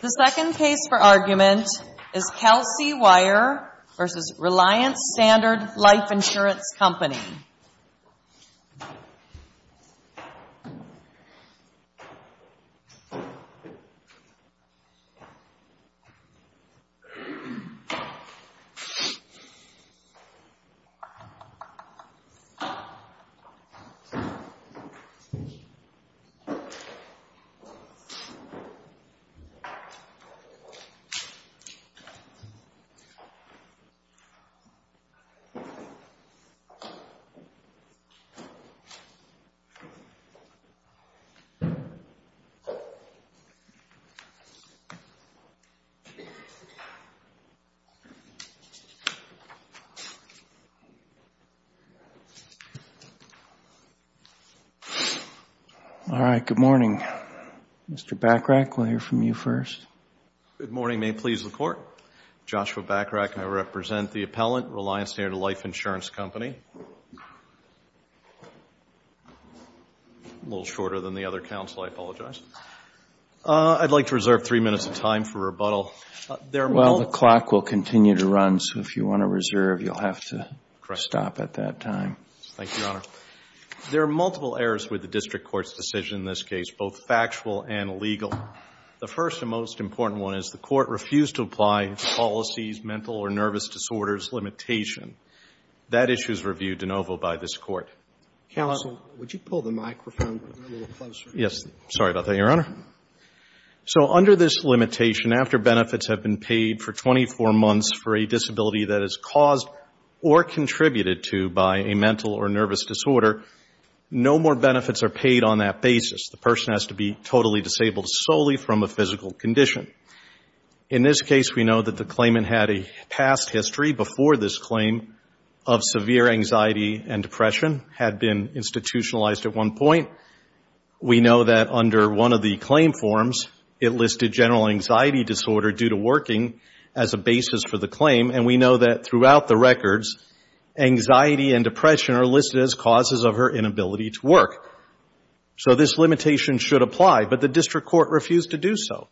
The second case for argument is Kelsey Weyer v. Reliance Standard Life Insurance Company. The third case for argument is Kelsey Weyer v. Reliance Standard Life Insurance Company. Good morning. Mr. Bachrach, we'll hear from you first. Good morning. May it please the Court. Joshua Bachrach, and I represent the appellant, Reliance Standard Life Insurance Company. A little shorter than the other counsel. I apologize. I'd like to reserve three minutes of time for rebuttal. Well, the clock will continue to run, so if you want to reserve, you'll have to stop at that time. Thank you, Your Honor. There are multiple errors with the district court's decision in this case, both factual and legal. The first and most important one is the court refused to apply policies, mental or nervous disorders limitation. That issue is reviewed de novo by this Court. Counsel, would you pull the microphone a little closer? Yes. Sorry about that, Your Honor. So under this limitation, after benefits have been paid for 24 months for a disability that is caused or contributed to by a mental or nervous disorder, no more benefits are paid on that basis. The person has to be totally disabled solely from a physical condition. In this case, we know that the claimant had a past history before this claim of severe anxiety and depression, had been institutionalized at one point. We know that under one of the claim forms, it listed general anxiety disorder due to working as a basis for the claim, and we know that throughout the records, anxiety and depression are listed as causes of her inability to work. So this limitation should apply, but the district court refused to do so.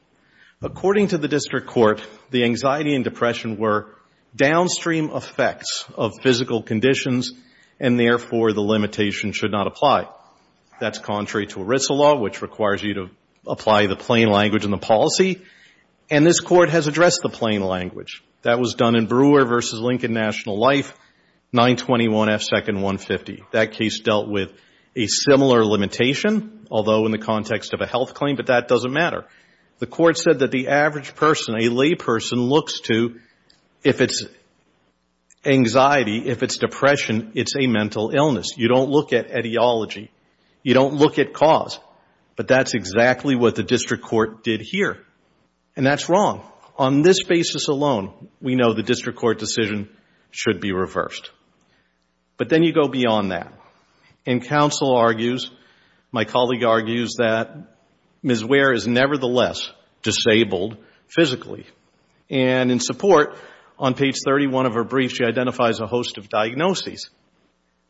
According to the district court, the anxiety and depression were downstream effects of physical conditions, and therefore, the limitation should not apply. That's contrary to ERISA law, which requires you to apply the plain language in the policy, and this Court has addressed the plain language. That was done in Brewer v. Lincoln National Life, 921 F. Second, 150. That case dealt with a similar limitation, although in the context of a health claim, but that doesn't matter. The Court said that the average person, a lay person, looks to, if it's anxiety, if it's depression, it's a mental illness. You don't look at etiology. You don't look at cause, but that's exactly what the district court did here, and that's wrong. On this basis alone, we know the district court decision should be reversed, but then you go beyond that, and counsel argues, my colleague argues, that Ms. Ware is nevertheless disabled physically, and in support, on page 31 of her brief, she identifies a host of diagnoses.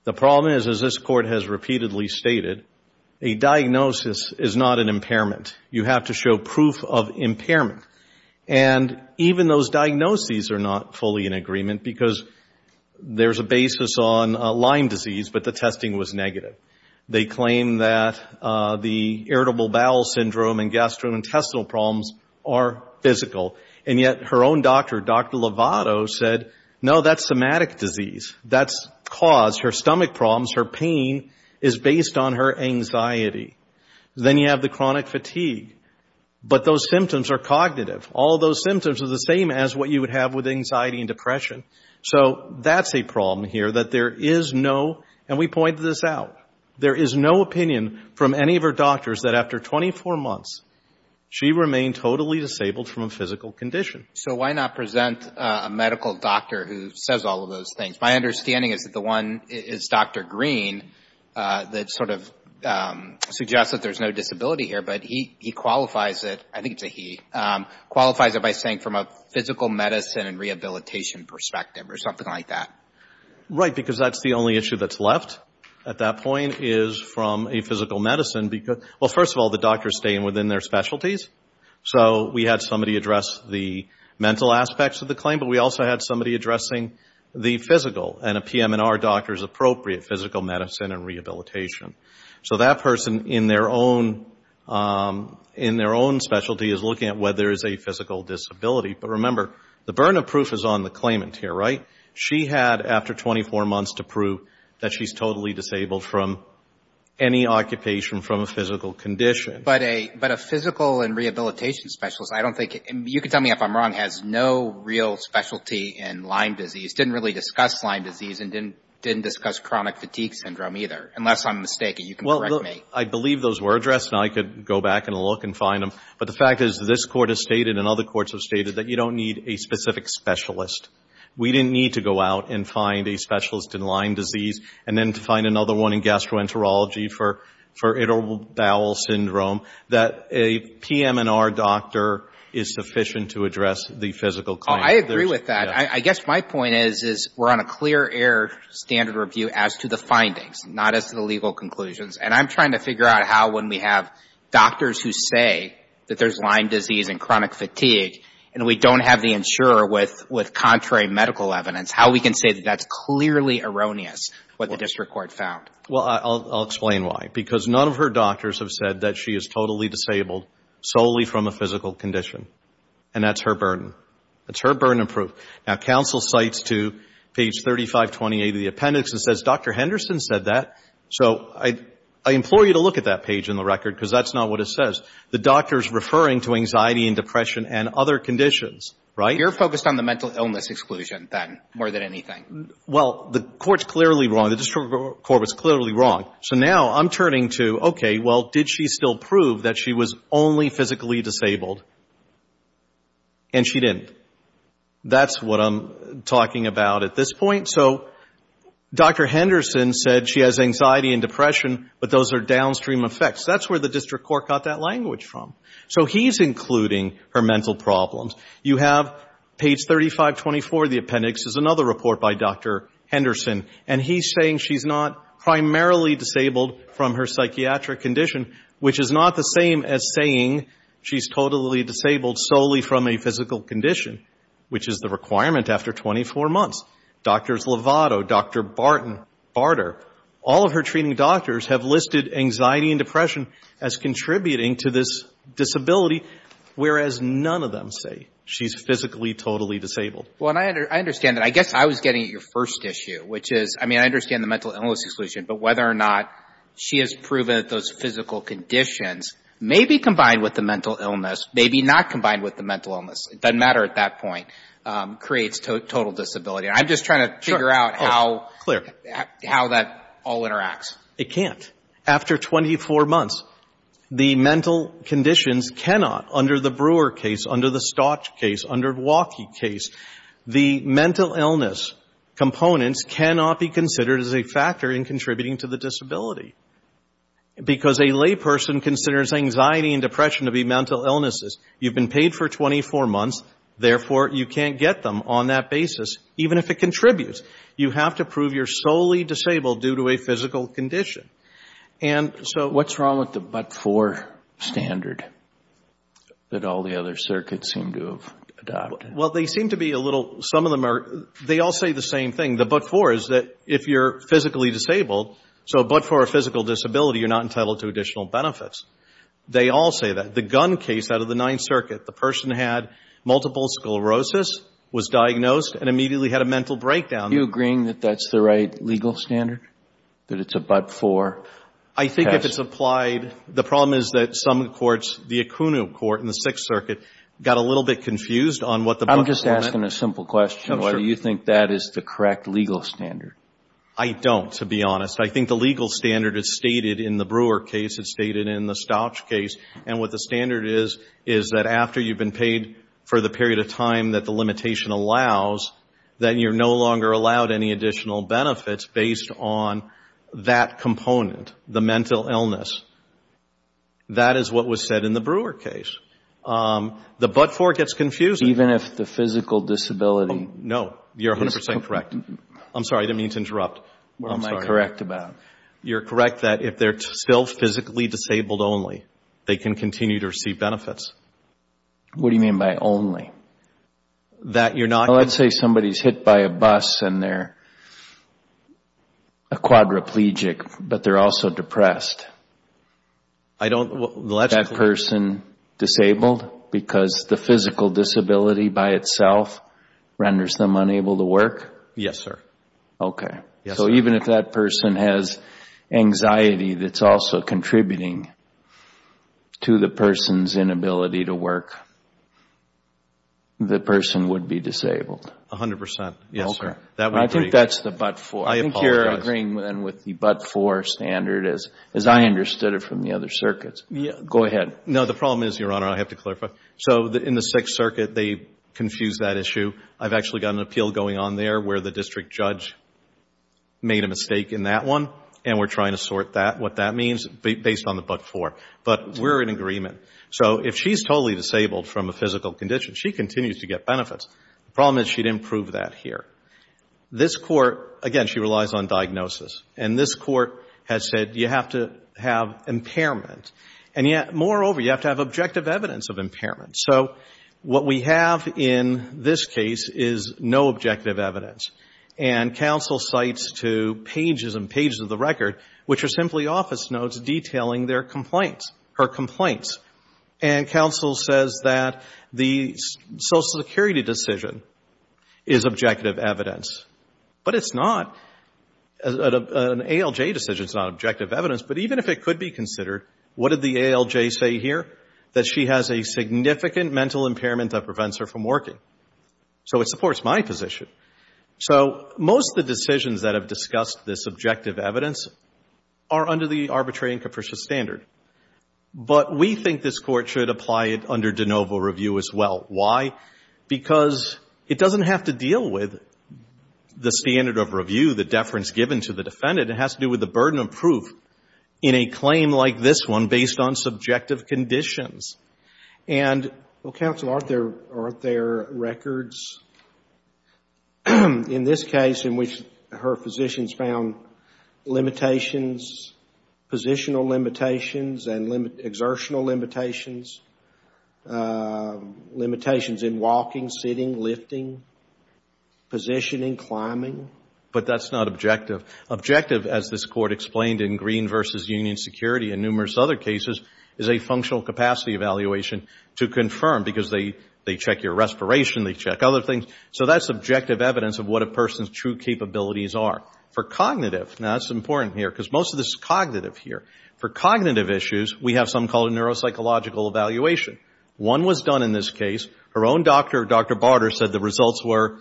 The problem is, as this Court has repeatedly stated, a diagnosis is not an impairment. You have to show proof of impairment, and even those diagnoses are not fully in agreement because there's a basis on Lyme disease, but the testing was negative. They claim that the irritable bowel syndrome and gastrointestinal problems are physical, and yet her own doctor, Dr. Lovato, said, no, that's somatic disease. That's cause. Her stomach problems, her pain is based on her anxiety. Then you have the chronic fatigue, but those symptoms are cognitive. All those symptoms are the same as what you would have with anxiety and depression. So that's a problem here, that there is no, and we pointed this out, there is no opinion from any of her doctors that after 24 months she remained totally disabled from a physical condition. So why not present a medical doctor who says all of those things? My understanding is that the one is Dr. Green that sort of suggests that there's no disability here, but he qualifies it, I think it's a he, qualifies it by saying from a physical medicine and rehabilitation perspective or something like that. Right, because that's the only issue that's left at that point is from a physical medicine. Well, first of all, the doctors stay within their specialties. So we had somebody address the mental aspects of the claim, but we also had somebody addressing the physical, and a PM&R doctor is appropriate, physical medicine and rehabilitation. So that person in their own specialty is looking at whether there is a physical disability. But remember, the burden of proof is on the claimant here, right? She had after 24 months to prove that she's totally disabled from any occupation from a physical condition. But a physical and rehabilitation specialist, I don't think, you can tell me if I'm wrong, has no real specialty in Lyme disease, didn't really discuss Lyme disease, and didn't discuss chronic fatigue syndrome either, unless I'm mistaken. You can correct me. Well, I believe those were addressed, and I could go back and look and find them. But the fact is this Court has stated and other courts have stated that you don't need a specific specialist. We didn't need to go out and find a specialist in Lyme disease and then to find another one in gastroenterology for iterable bowel syndrome, that a PM&R doctor is sufficient to address the physical claim. I agree with that. I guess my point is we're on a clear air standard review as to the findings, not as to the legal conclusions. And I'm trying to figure out how when we have doctors who say that there's Lyme disease and chronic fatigue and we don't have the insurer with contrary medical evidence, how we can say that that's clearly erroneous what the district court found. Well, I'll explain why. Because none of her doctors have said that she is totally disabled solely from a physical condition. And that's her burden. That's her burden of proof. Now, counsel cites to page 3528 of the appendix and says Dr. Henderson said that. So I implore you to look at that page in the record because that's not what it says. The doctor's referring to anxiety and depression and other conditions, right? You're focused on the mental illness exclusion, then, more than anything. Well, the court's clearly wrong. The district court was clearly wrong. So now I'm turning to, okay, well, did she still prove that she was only physically disabled? And she didn't. That's what I'm talking about at this point. So Dr. Henderson said she has anxiety and depression, but those are downstream effects. That's where the district court got that language from. So he's including her mental problems. You have page 3524 of the appendix is another report by Dr. Henderson, and he's saying she's not primarily disabled from her psychiatric condition, which is not the same as saying she's totally disabled solely from a physical condition, which is the requirement after 24 months. Doctors Lovato, Dr. Barter, all of her treating doctors have listed anxiety and depression as contributing to this disability, whereas none of them say she's physically totally disabled. Well, and I understand that. I guess I was getting at your first issue, which is, I mean, I understand the mental illness exclusion, but whether or not she has proven that those physical conditions, maybe combined with the mental illness, maybe not combined with the mental illness, it doesn't matter at that point, creates total disability. I'm just trying to figure out how that all interacts. It can't. After 24 months, the mental conditions cannot, under the Brewer case, under the Stott case, under the Waukee case, the mental illness components cannot be considered as a factor in contributing to the disability, because a lay person considers anxiety and depression to be mental illnesses. You've been paid for 24 months. Therefore, you can't get them on that basis, even if it contributes. You have to prove you're solely disabled due to a physical condition. And so what's wrong with the but-for standard that all the other circuits seem to have adopted? Well, they seem to be a little, some of them are, they all say the same thing. The but-for is that if you're physically disabled, so but-for a physical disability, you're not entitled to additional benefits. They all say that. The gun case out of the Ninth Circuit, the person had multiple sclerosis, was diagnosed, and immediately had a mental breakdown. Are you agreeing that that's the right legal standard, that it's a but-for? I think if it's applied, the problem is that some courts, the Acuna court in the Sixth Circuit, got a little bit confused on what the but-for meant. I'm just asking a simple question. I'm sure. Why do you think that is the correct legal standard? I don't, to be honest. I think the legal standard is stated in the Brewer case, it's stated in the Stott case, and what the standard is, is that after you've been paid for the period of time that the limitation allows, then you're no longer allowed any additional benefits based on that component, the mental illness. That is what was said in the Brewer case. The but-for gets confusing. Even if the physical disability? No, you're 100% correct. I'm sorry, I didn't mean to interrupt. What am I correct about? You're correct that if they're still physically disabled only, they can continue to receive benefits. What do you mean by only? Let's say somebody is hit by a bus and they're a quadriplegic, but they're also depressed. Is that person disabled because the physical disability by itself renders them unable to work? Yes, sir. Okay. So even if that person has anxiety that's also contributing to the person's inability to work, the person would be disabled? 100%, yes, sir. Okay. I think that's the but-for. I apologize. I think you're agreeing with the but-for standard as I understood it from the other circuits. Go ahead. No, the problem is, Your Honor, I have to clarify. So in the Sixth Circuit, they confused that issue. I've actually got an appeal going on there where the district judge made a mistake in that one, and we're trying to sort what that means based on the but-for. But we're in agreement. So if she's totally disabled from a physical condition, she continues to get benefits. The problem is she didn't prove that here. This Court, again, she relies on diagnosis. And this Court has said you have to have impairment. And yet, moreover, you have to have objective evidence of impairment. So what we have in this case is no objective evidence. And counsel cites to pages and pages of the record, which are simply office notes detailing their complaints, her complaints. And counsel says that the Social Security decision is objective evidence. But it's not. An ALJ decision is not objective evidence. But even if it could be considered, what did the ALJ say here? That she has a significant mental impairment that prevents her from working. So it supports my position. So most of the decisions that have discussed this objective evidence are under the arbitrary and capricious standard. But we think this Court should apply it under de novo review as well. Why? Because it doesn't have to deal with the standard of review, the deference given to the defendant. It has to do with the burden of proof in a claim like this one based on subjective conditions. And, well, counsel, aren't there records in this case in which her physicians found limitations, positional limitations and exertional limitations, limitations in walking, sitting, lifting, positioning, climbing? But that's not objective. Objective, as this Court explained in Green v. Union Security and numerous other cases, is a functional capacity evaluation to confirm because they check your respiration. They check other things. So that's objective evidence of what a person's true capabilities are. For cognitive, now that's important here because most of this is cognitive here. For cognitive issues, we have some called neuropsychological evaluation. One was done in this case. Her own doctor, Dr. Barter, said the results were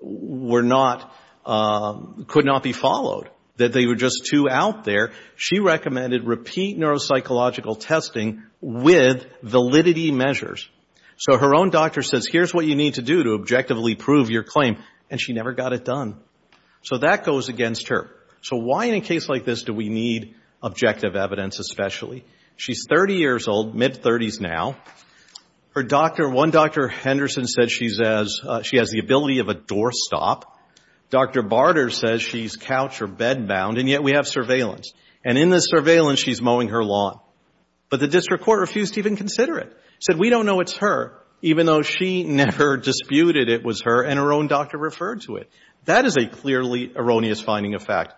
not, could not be followed, that they were just too out there. She recommended repeat neuropsychological testing with validity measures. So her own doctor says, here's what you need to do to objectively prove your claim, and she never got it done. So that goes against her. So why in a case like this do we need objective evidence especially? She's 30 years old, mid-30s now. Her doctor, one Dr. Henderson said she has the ability of a doorstop. Dr. Barter says she's couch or bedbound, and yet we have surveillance. And in this surveillance, she's mowing her lawn. But the district court refused to even consider it. Said, we don't know it's her, even though she never disputed it was her, and her own doctor referred to it. That is a clearly erroneous finding of fact,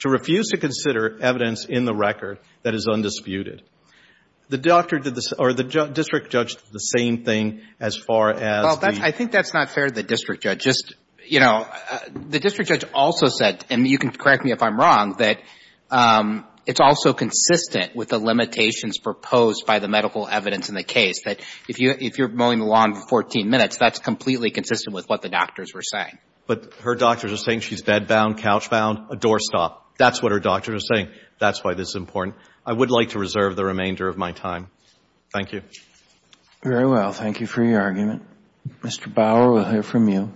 to refuse to consider evidence in the record that is undisputed. The doctor did the, or the district judge did the same thing as far as the. Well, I think that's not fair to the district judge. Just, you know, the district judge also said, and you can correct me if I'm wrong, that it's also consistent with the limitations proposed by the medical evidence in the case. That if you're mowing the lawn for 14 minutes, that's completely consistent with what the doctors were saying. But her doctors are saying she's bedbound, couchbound, a doorstop. That's what her doctors are saying. That's why this is important. I would like to reserve the remainder of my time. Thank you. Very well. Thank you for your argument. Mr. Bauer, we'll hear from you.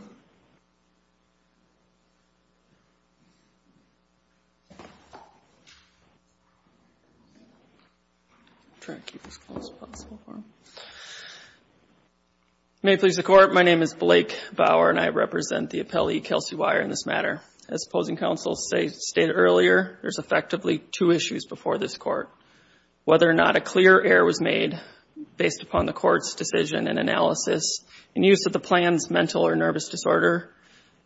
May it please the Court. My name is Blake Bauer, and I represent the appellee, Kelsey Weyer, in this matter. As opposing counsels stated earlier, there's effectively two issues before this Court. Whether or not a clear error was made based upon the Court's decision and analysis in use of the plan's mental or nervous disorder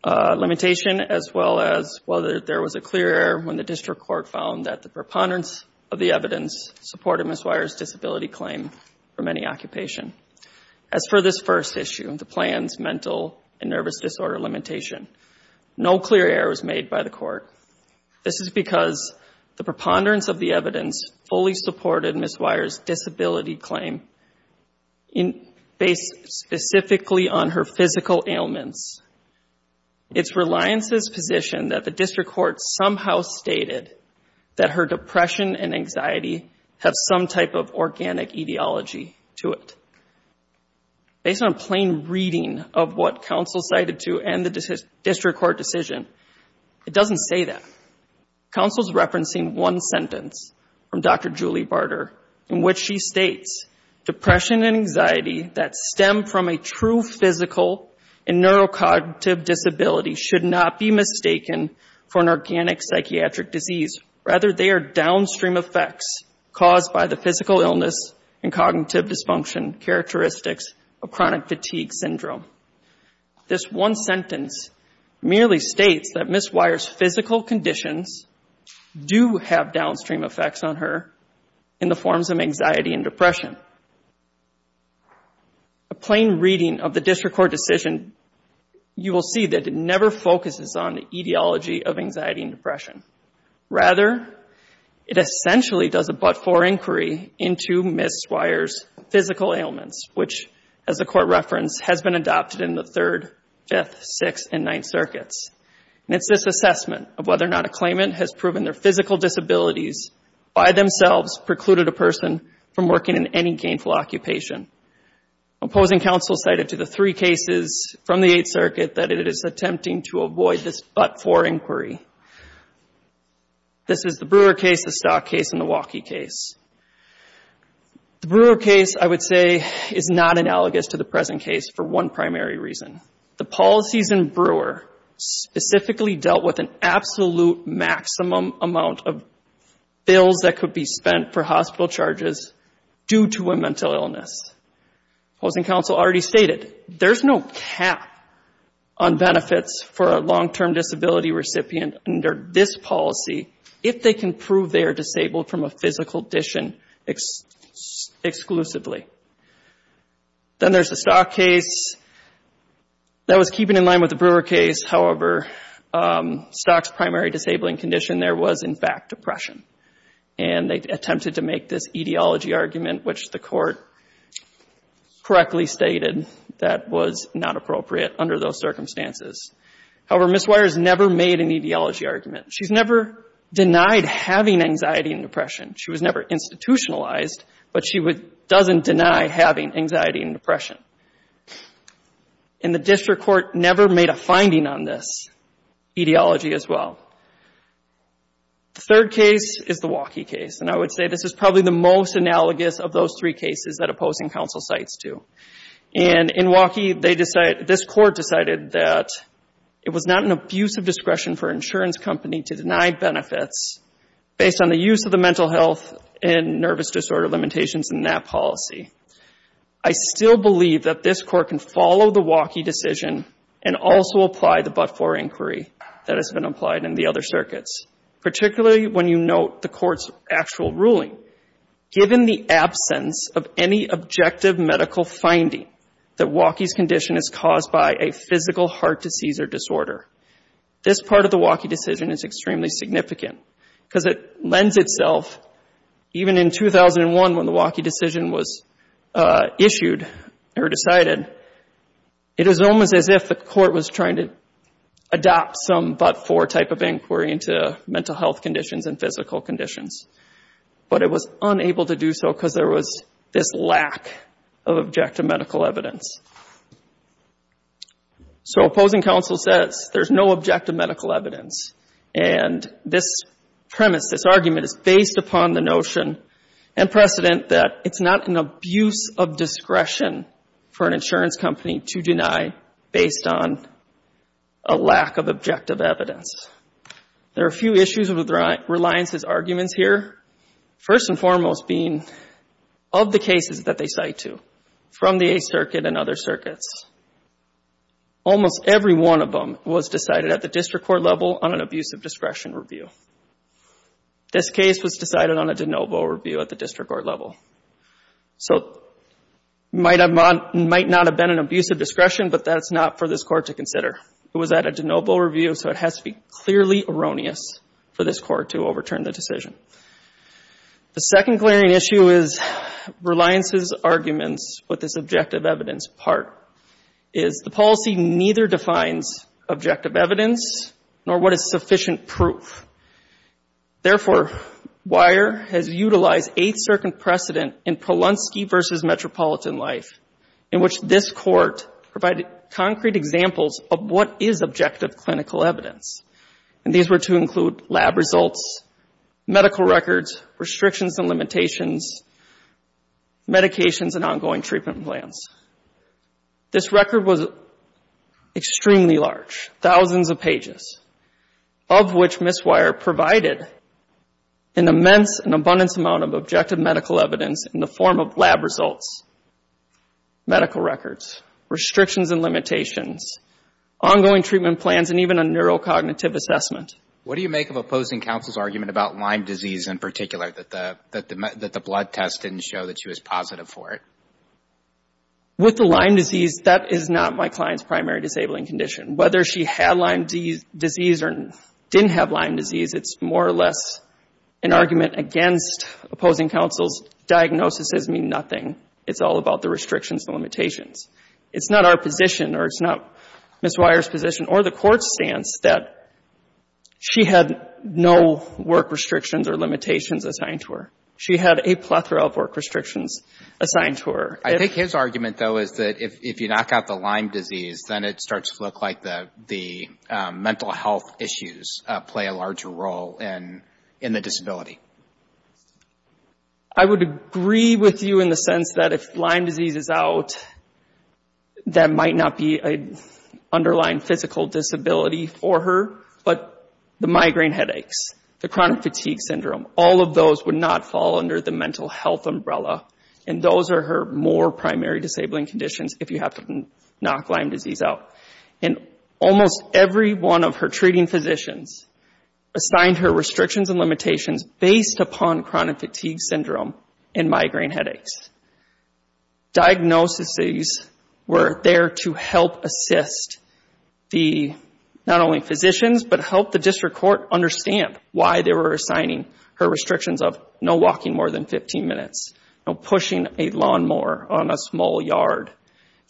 limitation, as well as whether there was a clear error when the district court found that the preponderance of the evidence supported Ms. Weyer's disability claim for many occupation. As for this first issue, the plan's mental and nervous disorder limitation, no clear error was made by the Court. This is because the preponderance of the evidence fully supported Ms. Weyer's disability claim based specifically on her physical ailments. It's Reliance's position that the district court somehow stated that her depression and anxiety have some type of organic etiology to it. Based on a plain reading of what counsel cited to end the district court decision, it doesn't say that. Counsel's referencing one sentence from Dr. Julie Barter, in which she states, depression and anxiety that stem from a true physical and neurocognitive disability should not be mistaken for an organic psychiatric disease. Rather, they are downstream effects caused by the physical illness and cognitive dysfunction characteristics of chronic fatigue syndrome. This one sentence merely states that Ms. Weyer's physical conditions do have downstream effects on her in the forms of anxiety and depression. A plain reading of the district court decision, you will see that it never focuses on the etiology of anxiety and depression. Rather, it essentially does a but-for inquiry into Ms. Weyer's physical ailments, which, as the Court referenced, has been adopted in the Third, Fifth, Sixth, and Ninth Circuits. And it's this assessment of whether or not a claimant has proven their physical disabilities by themselves precluded a person from working in any gainful occupation. Opposing counsel cited to the three cases from the Eighth Circuit that it is attempting to avoid this but-for inquiry. This is the Brewer case, the Stock case, and the Waukee case. The Brewer case, I would say, is not analogous to the present case for one primary reason. The policies in Brewer specifically dealt with an absolute maximum amount of bills that could be spent for hospital charges due to a mental illness. Opposing counsel already stated there's no cap on benefits for a long-term disability recipient under this policy if they can prove they are disabled from a physical condition exclusively. Then there's the Stock case. That was keeping in line with the Brewer case. However, Stock's primary disabling condition there was, in fact, depression. And they attempted to make this etiology argument, which the court correctly stated that was not appropriate under those circumstances. However, Ms. Weyers never made an etiology argument. She's never denied having anxiety and depression. She was never institutionalized, but she doesn't deny having anxiety and depression. And the district court never made a finding on this etiology as well. The third case is the Waukee case. And I would say this is probably the most analogous of those three cases that opposing counsel cites to. And in Waukee, this court decided that it was not an abuse of discretion for an insurance company to deny benefits based on the use of the mental health and nervous disorder limitations in that policy. I still believe that this court can follow the Waukee decision and also apply the but-for inquiry that has been applied in the other circuits, particularly when you note the court's actual ruling. Given the absence of any objective medical finding that Waukee's condition is caused by a physical heart disease or disorder, this part of the Waukee decision is extremely significant because it lends itself, even in 2001 when the Waukee decision was issued or decided, it is almost as if the court was trying to adopt some but-for type of inquiry into mental health conditions and physical conditions. But it was unable to do so because there was this lack of objective medical evidence. So opposing counsel says there's no objective medical evidence. And this premise, this argument is based upon the notion and precedent that it's not an abuse of discretion for an insurance company to deny based on a lack of objective evidence. There are a few issues with Reliance's arguments here, first and foremost being of the cases that they cite to from the Eighth Circuit and other circuits. Almost every one of them was decided at the district court level on an abuse of discretion review. This case was decided on a de novo review at the district court level. So it might not have been an abuse of discretion, but that's not for this court to consider. It was at a de novo review, so it has to be clearly erroneous for this court to overturn the decision. The second glaring issue is Reliance's arguments with this objective evidence part, is the policy neither defines objective evidence nor what is sufficient proof. Therefore, Weyer has utilized Eighth Circuit precedent in Polonsky v. Metropolitan Life in which this court provided concrete examples of what is objective clinical evidence. And these were to include lab results, medical records, restrictions and limitations, medications and ongoing treatment plans. This record was extremely large, thousands of pages, of which Ms. Weyer provided an immense and abundance amount of objective medical evidence in the form of lab results, medical records, restrictions and limitations, ongoing treatment plans and even a neurocognitive assessment. What do you make of opposing counsel's argument about Lyme disease in particular, that the blood test didn't show that she was positive for it? With the Lyme disease, that is not my client's primary disabling condition. Whether she had Lyme disease or didn't have Lyme disease, it's more or less an argument against opposing counsel's diagnosis as meaning nothing. It's all about the restrictions and limitations. It's not our position or it's not Ms. Weyer's position or the court's stance that she had no work restrictions or limitations assigned to her. She had a plethora of work restrictions assigned to her. I think his argument, though, is that if you knock out the Lyme disease, then it starts to look like the mental health issues play a larger role in the disability. I would agree with you in the sense that if Lyme disease is out, that might not be an underlying physical disability for her, but the migraine headaches, the chronic fatigue syndrome, all of those would not fall under the mental health umbrella, and those are her more primary disabling conditions if you have to knock Lyme disease out. And almost every one of her treating physicians assigned her restrictions and limitations based upon chronic fatigue syndrome and migraine headaches. Diagnoses were there to help assist the not only physicians, but help the district court understand why they were assigning her restrictions of no walking more than 15 minutes, no pushing a lawnmower on a small yard.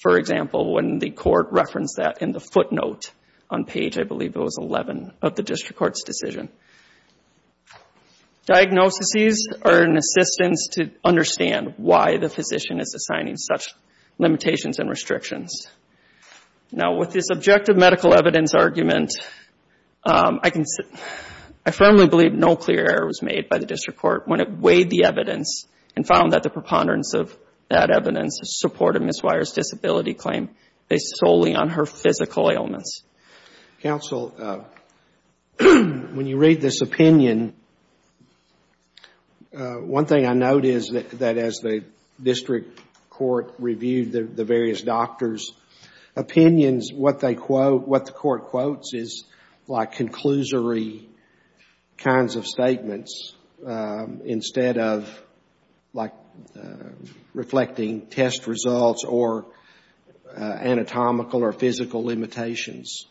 For example, when the court referenced that in the footnote on page, I believe it was 11, of the district court's decision. Diagnoses are an assistance to understand why the physician is assigning such limitations and restrictions. Now, with this objective medical evidence argument, I firmly believe no clear error was made by the district court when it weighed the evidence and found that the preponderance of that evidence supported Ms. Weier's disability claim based solely on her physical ailments. Counsel, when you read this opinion, one thing I note is that as the district court reviewed the various doctors' opinions, what they quote, what the court quotes is like conclusory kinds of statements instead of, like, reflecting test results or anatomical or physical limitations.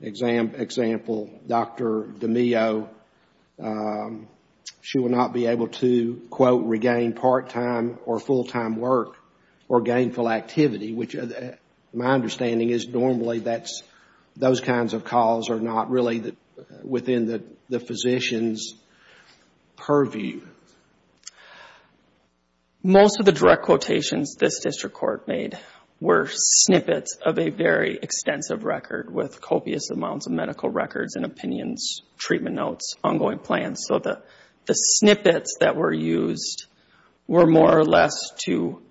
Example, Dr. DiMeo, she will not be able to, quote, regain part-time or full-time work or gainful activity, which my understanding is normally that's, those kinds of calls are not really within the physician's purview. Most of the direct quotations this district court made were snippets of a very extensive record with copious amounts of medical records and opinions, treatment notes, ongoing plans. So the snippets that were used were more or less to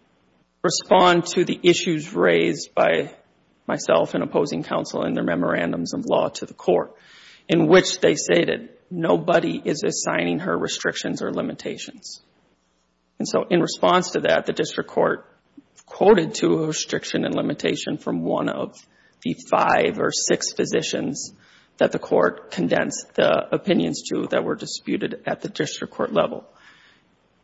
respond to the issues raised by myself and opposing counsel in their memorandums of law to the court, in which they stated, nobody is assigning her restrictions or limitations. And so in response to that, the district court quoted to a restriction and limitation from one of the five or six physicians that the court condensed the opinions to that were disputed at the district court level.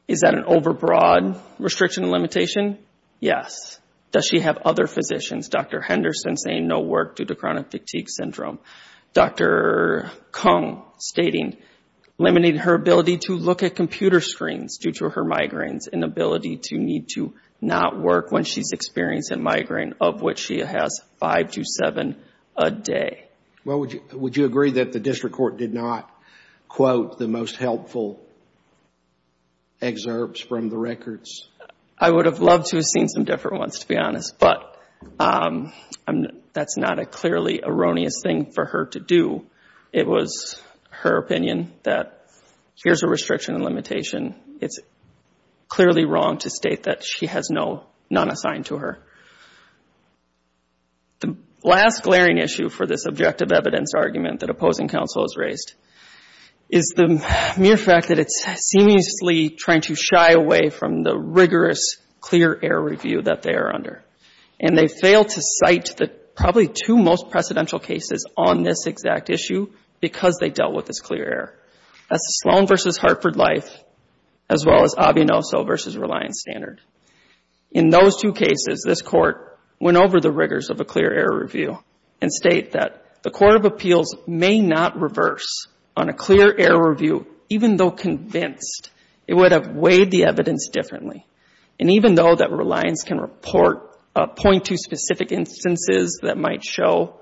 Is that an overbroad restriction and limitation? Yes. Does she have other physicians? Dr. Henderson saying no work due to chronic fatigue syndrome. Dr. Kung stating limiting her ability to look at computer screens due to her migraines and ability to need to not work when she's experiencing migraine, of which she has five to seven a day. Well, would you agree that the district court did not quote the most helpful excerpts from the records? I would have loved to have seen some different ones, to be honest, but that's not a clearly erroneous thing for her to do. It was her opinion that here's a restriction and limitation. It's clearly wrong to state that she has none assigned to her. The last glaring issue for this objective evidence argument that opposing counsel has raised is the mere fact that it's seemingly trying to shy away from the rigorous clear error review that they are under. And they failed to cite the probably two most precedential cases on this exact issue because they dealt with this clear error. That's the Sloan v. Hartford Life as well as Avianoso v. Reliance Standard. In those two cases, this Court went over the rigors of a clear error review and state that the Court of Appeals may not reverse on a clear error review even though convinced it would have weighed the evidence differently. And even though that Reliance can report .2 specific instances that might show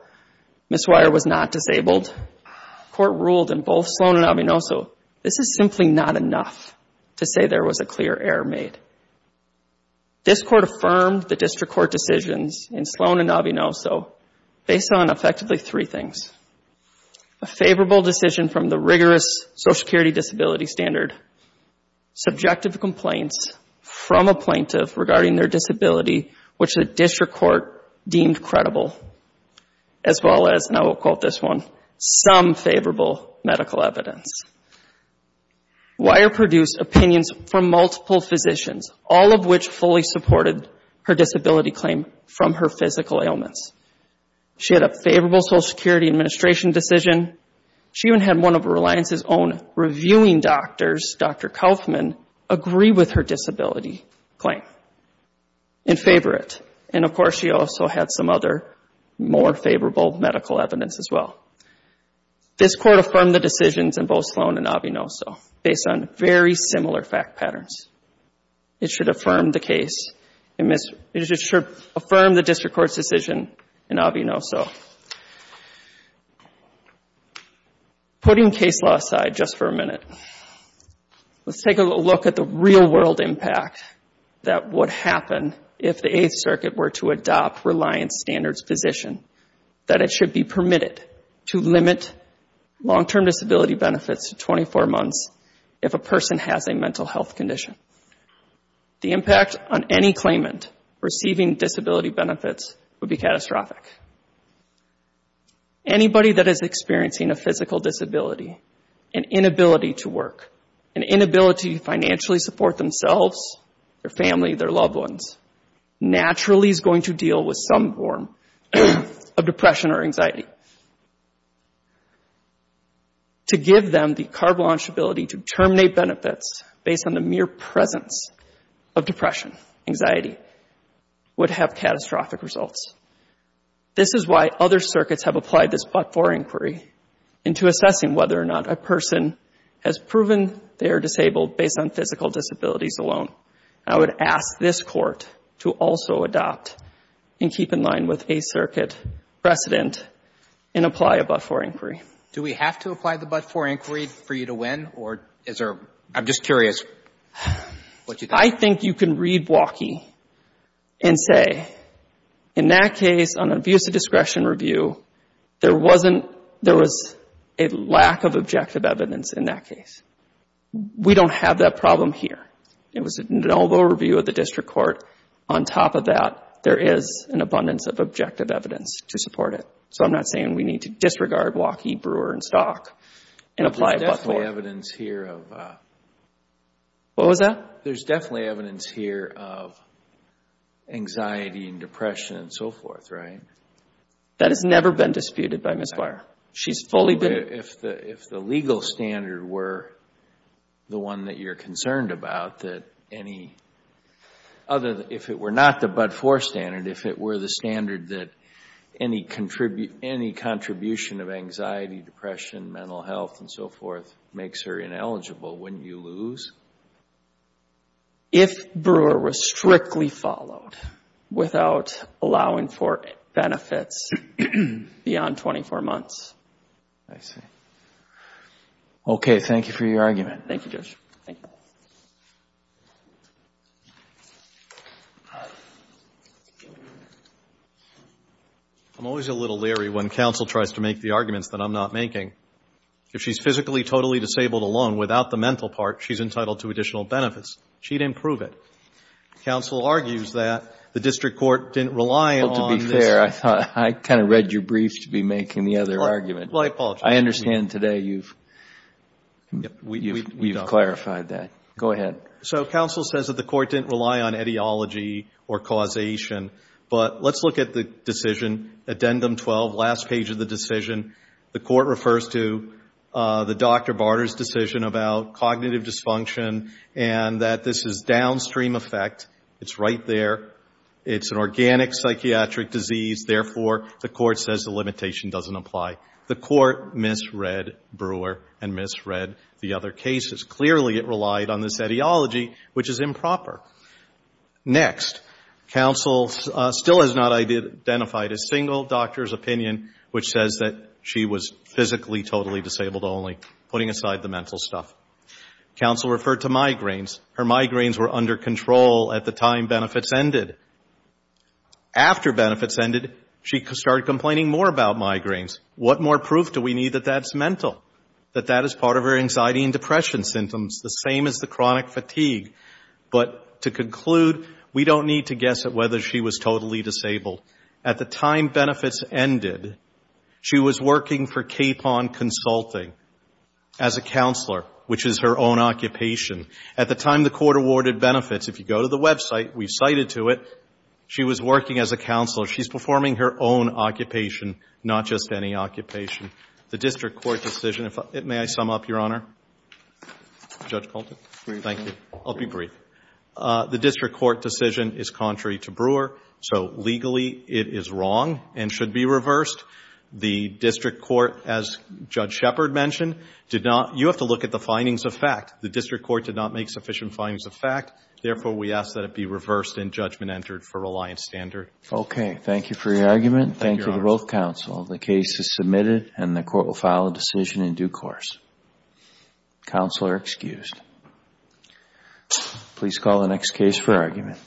Ms. Weyer was not disabled, the Court ruled in both Sloan and Avianoso, this is simply not enough to say there was a clear error made. This Court affirmed the district court decisions in Sloan and Avianoso based on effectively three things. A favorable decision from the rigorous Social Security Disability Standard, subjective complaints from a plaintiff regarding their disability which the district court deemed credible, as well as, and I will quote this one, some favorable medical evidence. Weyer produced opinions from multiple physicians, all of which fully supported her disability claim from her physical ailments. She had a favorable Social Security administration decision. She even had one of Reliance's own reviewing doctors, Dr. Kaufman, agree with her disability claim and favor it. And, of course, she also had some other more favorable medical evidence as well. This Court affirmed the decisions in both Sloan and Avianoso based on very similar fact patterns. It should affirm the case, it should affirm the district court's decision in Avianoso. Putting case law aside just for a minute, let's take a look at the real-world impact that would happen if the Eighth Circuit were to adopt Reliance Standards position, that it should be permitted to limit long-term disability benefits to 24 months if a person has a mental health condition. The impact on any claimant receiving disability benefits would be catastrophic. Anybody that is experiencing a physical disability, an inability to work, an inability to financially support themselves, their family, their loved ones, naturally is going to deal with some form of depression or anxiety. To give them the carte blanche ability to terminate benefits based on the mere presence of depression, anxiety, would have catastrophic results. This is why other circuits have applied this but-for inquiry into assessing whether or not a person has proven they are disabled based on physical disabilities alone. I would ask this Court to also adopt and keep in line with Eighth Circuit precedent and apply a but-for inquiry. Do we have to apply the but-for inquiry for you to win, or is there — I'm just curious what you think. I think you can read Waukee and say, in that case, on an abuse of discretion review, there wasn't — there was a lack of objective evidence in that case. We don't have that problem here. It was an overall review of the District Court. On top of that, there is an abundance of objective evidence to support it. So I'm not saying we need to disregard Waukee, Brewer, and Stock and apply a but-for. There's definitely evidence here of — What was that? There's definitely evidence here of anxiety and depression and so forth, right? That has never been disputed by Ms. Brewer. She's fully been — If the legal standard were the one that you're concerned about, that any other — if it were not the but-for standard, if it were the standard that any contribution of anxiety, depression, mental health and so forth makes her ineligible, wouldn't you lose? If Brewer was strictly followed without allowing for benefits beyond 24 months. I see. Okay. Thank you for your argument. Thank you, Judge. Thank you. I'm always a little leery when counsel tries to make the arguments that I'm not making. If she's physically totally disabled alone without the mental part, she's entitled to additional benefits. She didn't prove it. Counsel argues that the District Court didn't rely on this. Well, to be fair, I kind of read your briefs to be making the other argument. Well, I apologize. I understand today you've clarified that. Go ahead. So counsel says that the court didn't rely on etiology or causation. But let's look at the decision, Addendum 12, last page of the decision. The court refers to the Dr. Barter's decision about cognitive dysfunction and that this is downstream effect. It's right there. It's an organic psychiatric disease. Therefore, the court says the limitation doesn't apply. The court misread Brewer and misread the other cases. Clearly, it relied on this etiology, which is improper. Next, counsel still has not identified a single doctor's opinion which says that she was physically totally disabled only, putting aside the mental stuff. Counsel referred to migraines. Her migraines were under control at the time benefits ended. After benefits ended, she started complaining more about migraines. What more proof do we need that that's mental, that that is part of her anxiety and depression symptoms, the same as the chronic fatigue? But to conclude, we don't need to guess at whether she was totally disabled. At the time benefits ended, she was working for Capon Consulting as a counselor, which is her own occupation. At the time the court awarded benefits, if you go to the website, we've cited to it, she was working as a counselor. She's performing her own occupation, not just any occupation. The district court decision, may I sum up, Your Honor? Judge Colton? Thank you. I'll be brief. The district court decision is contrary to Brewer, so legally it is wrong and should be reversed. The district court, as Judge Shepard mentioned, did not you have to look at the findings of fact. The district court did not make sufficient findings of fact. Therefore, we ask that it be reversed and judgment entered for reliance standard. Okay. Thank you for your argument. Thank you to both counsel. The case is submitted and the court will file a decision in due course. Counsel are excused. Please call the next case for argument.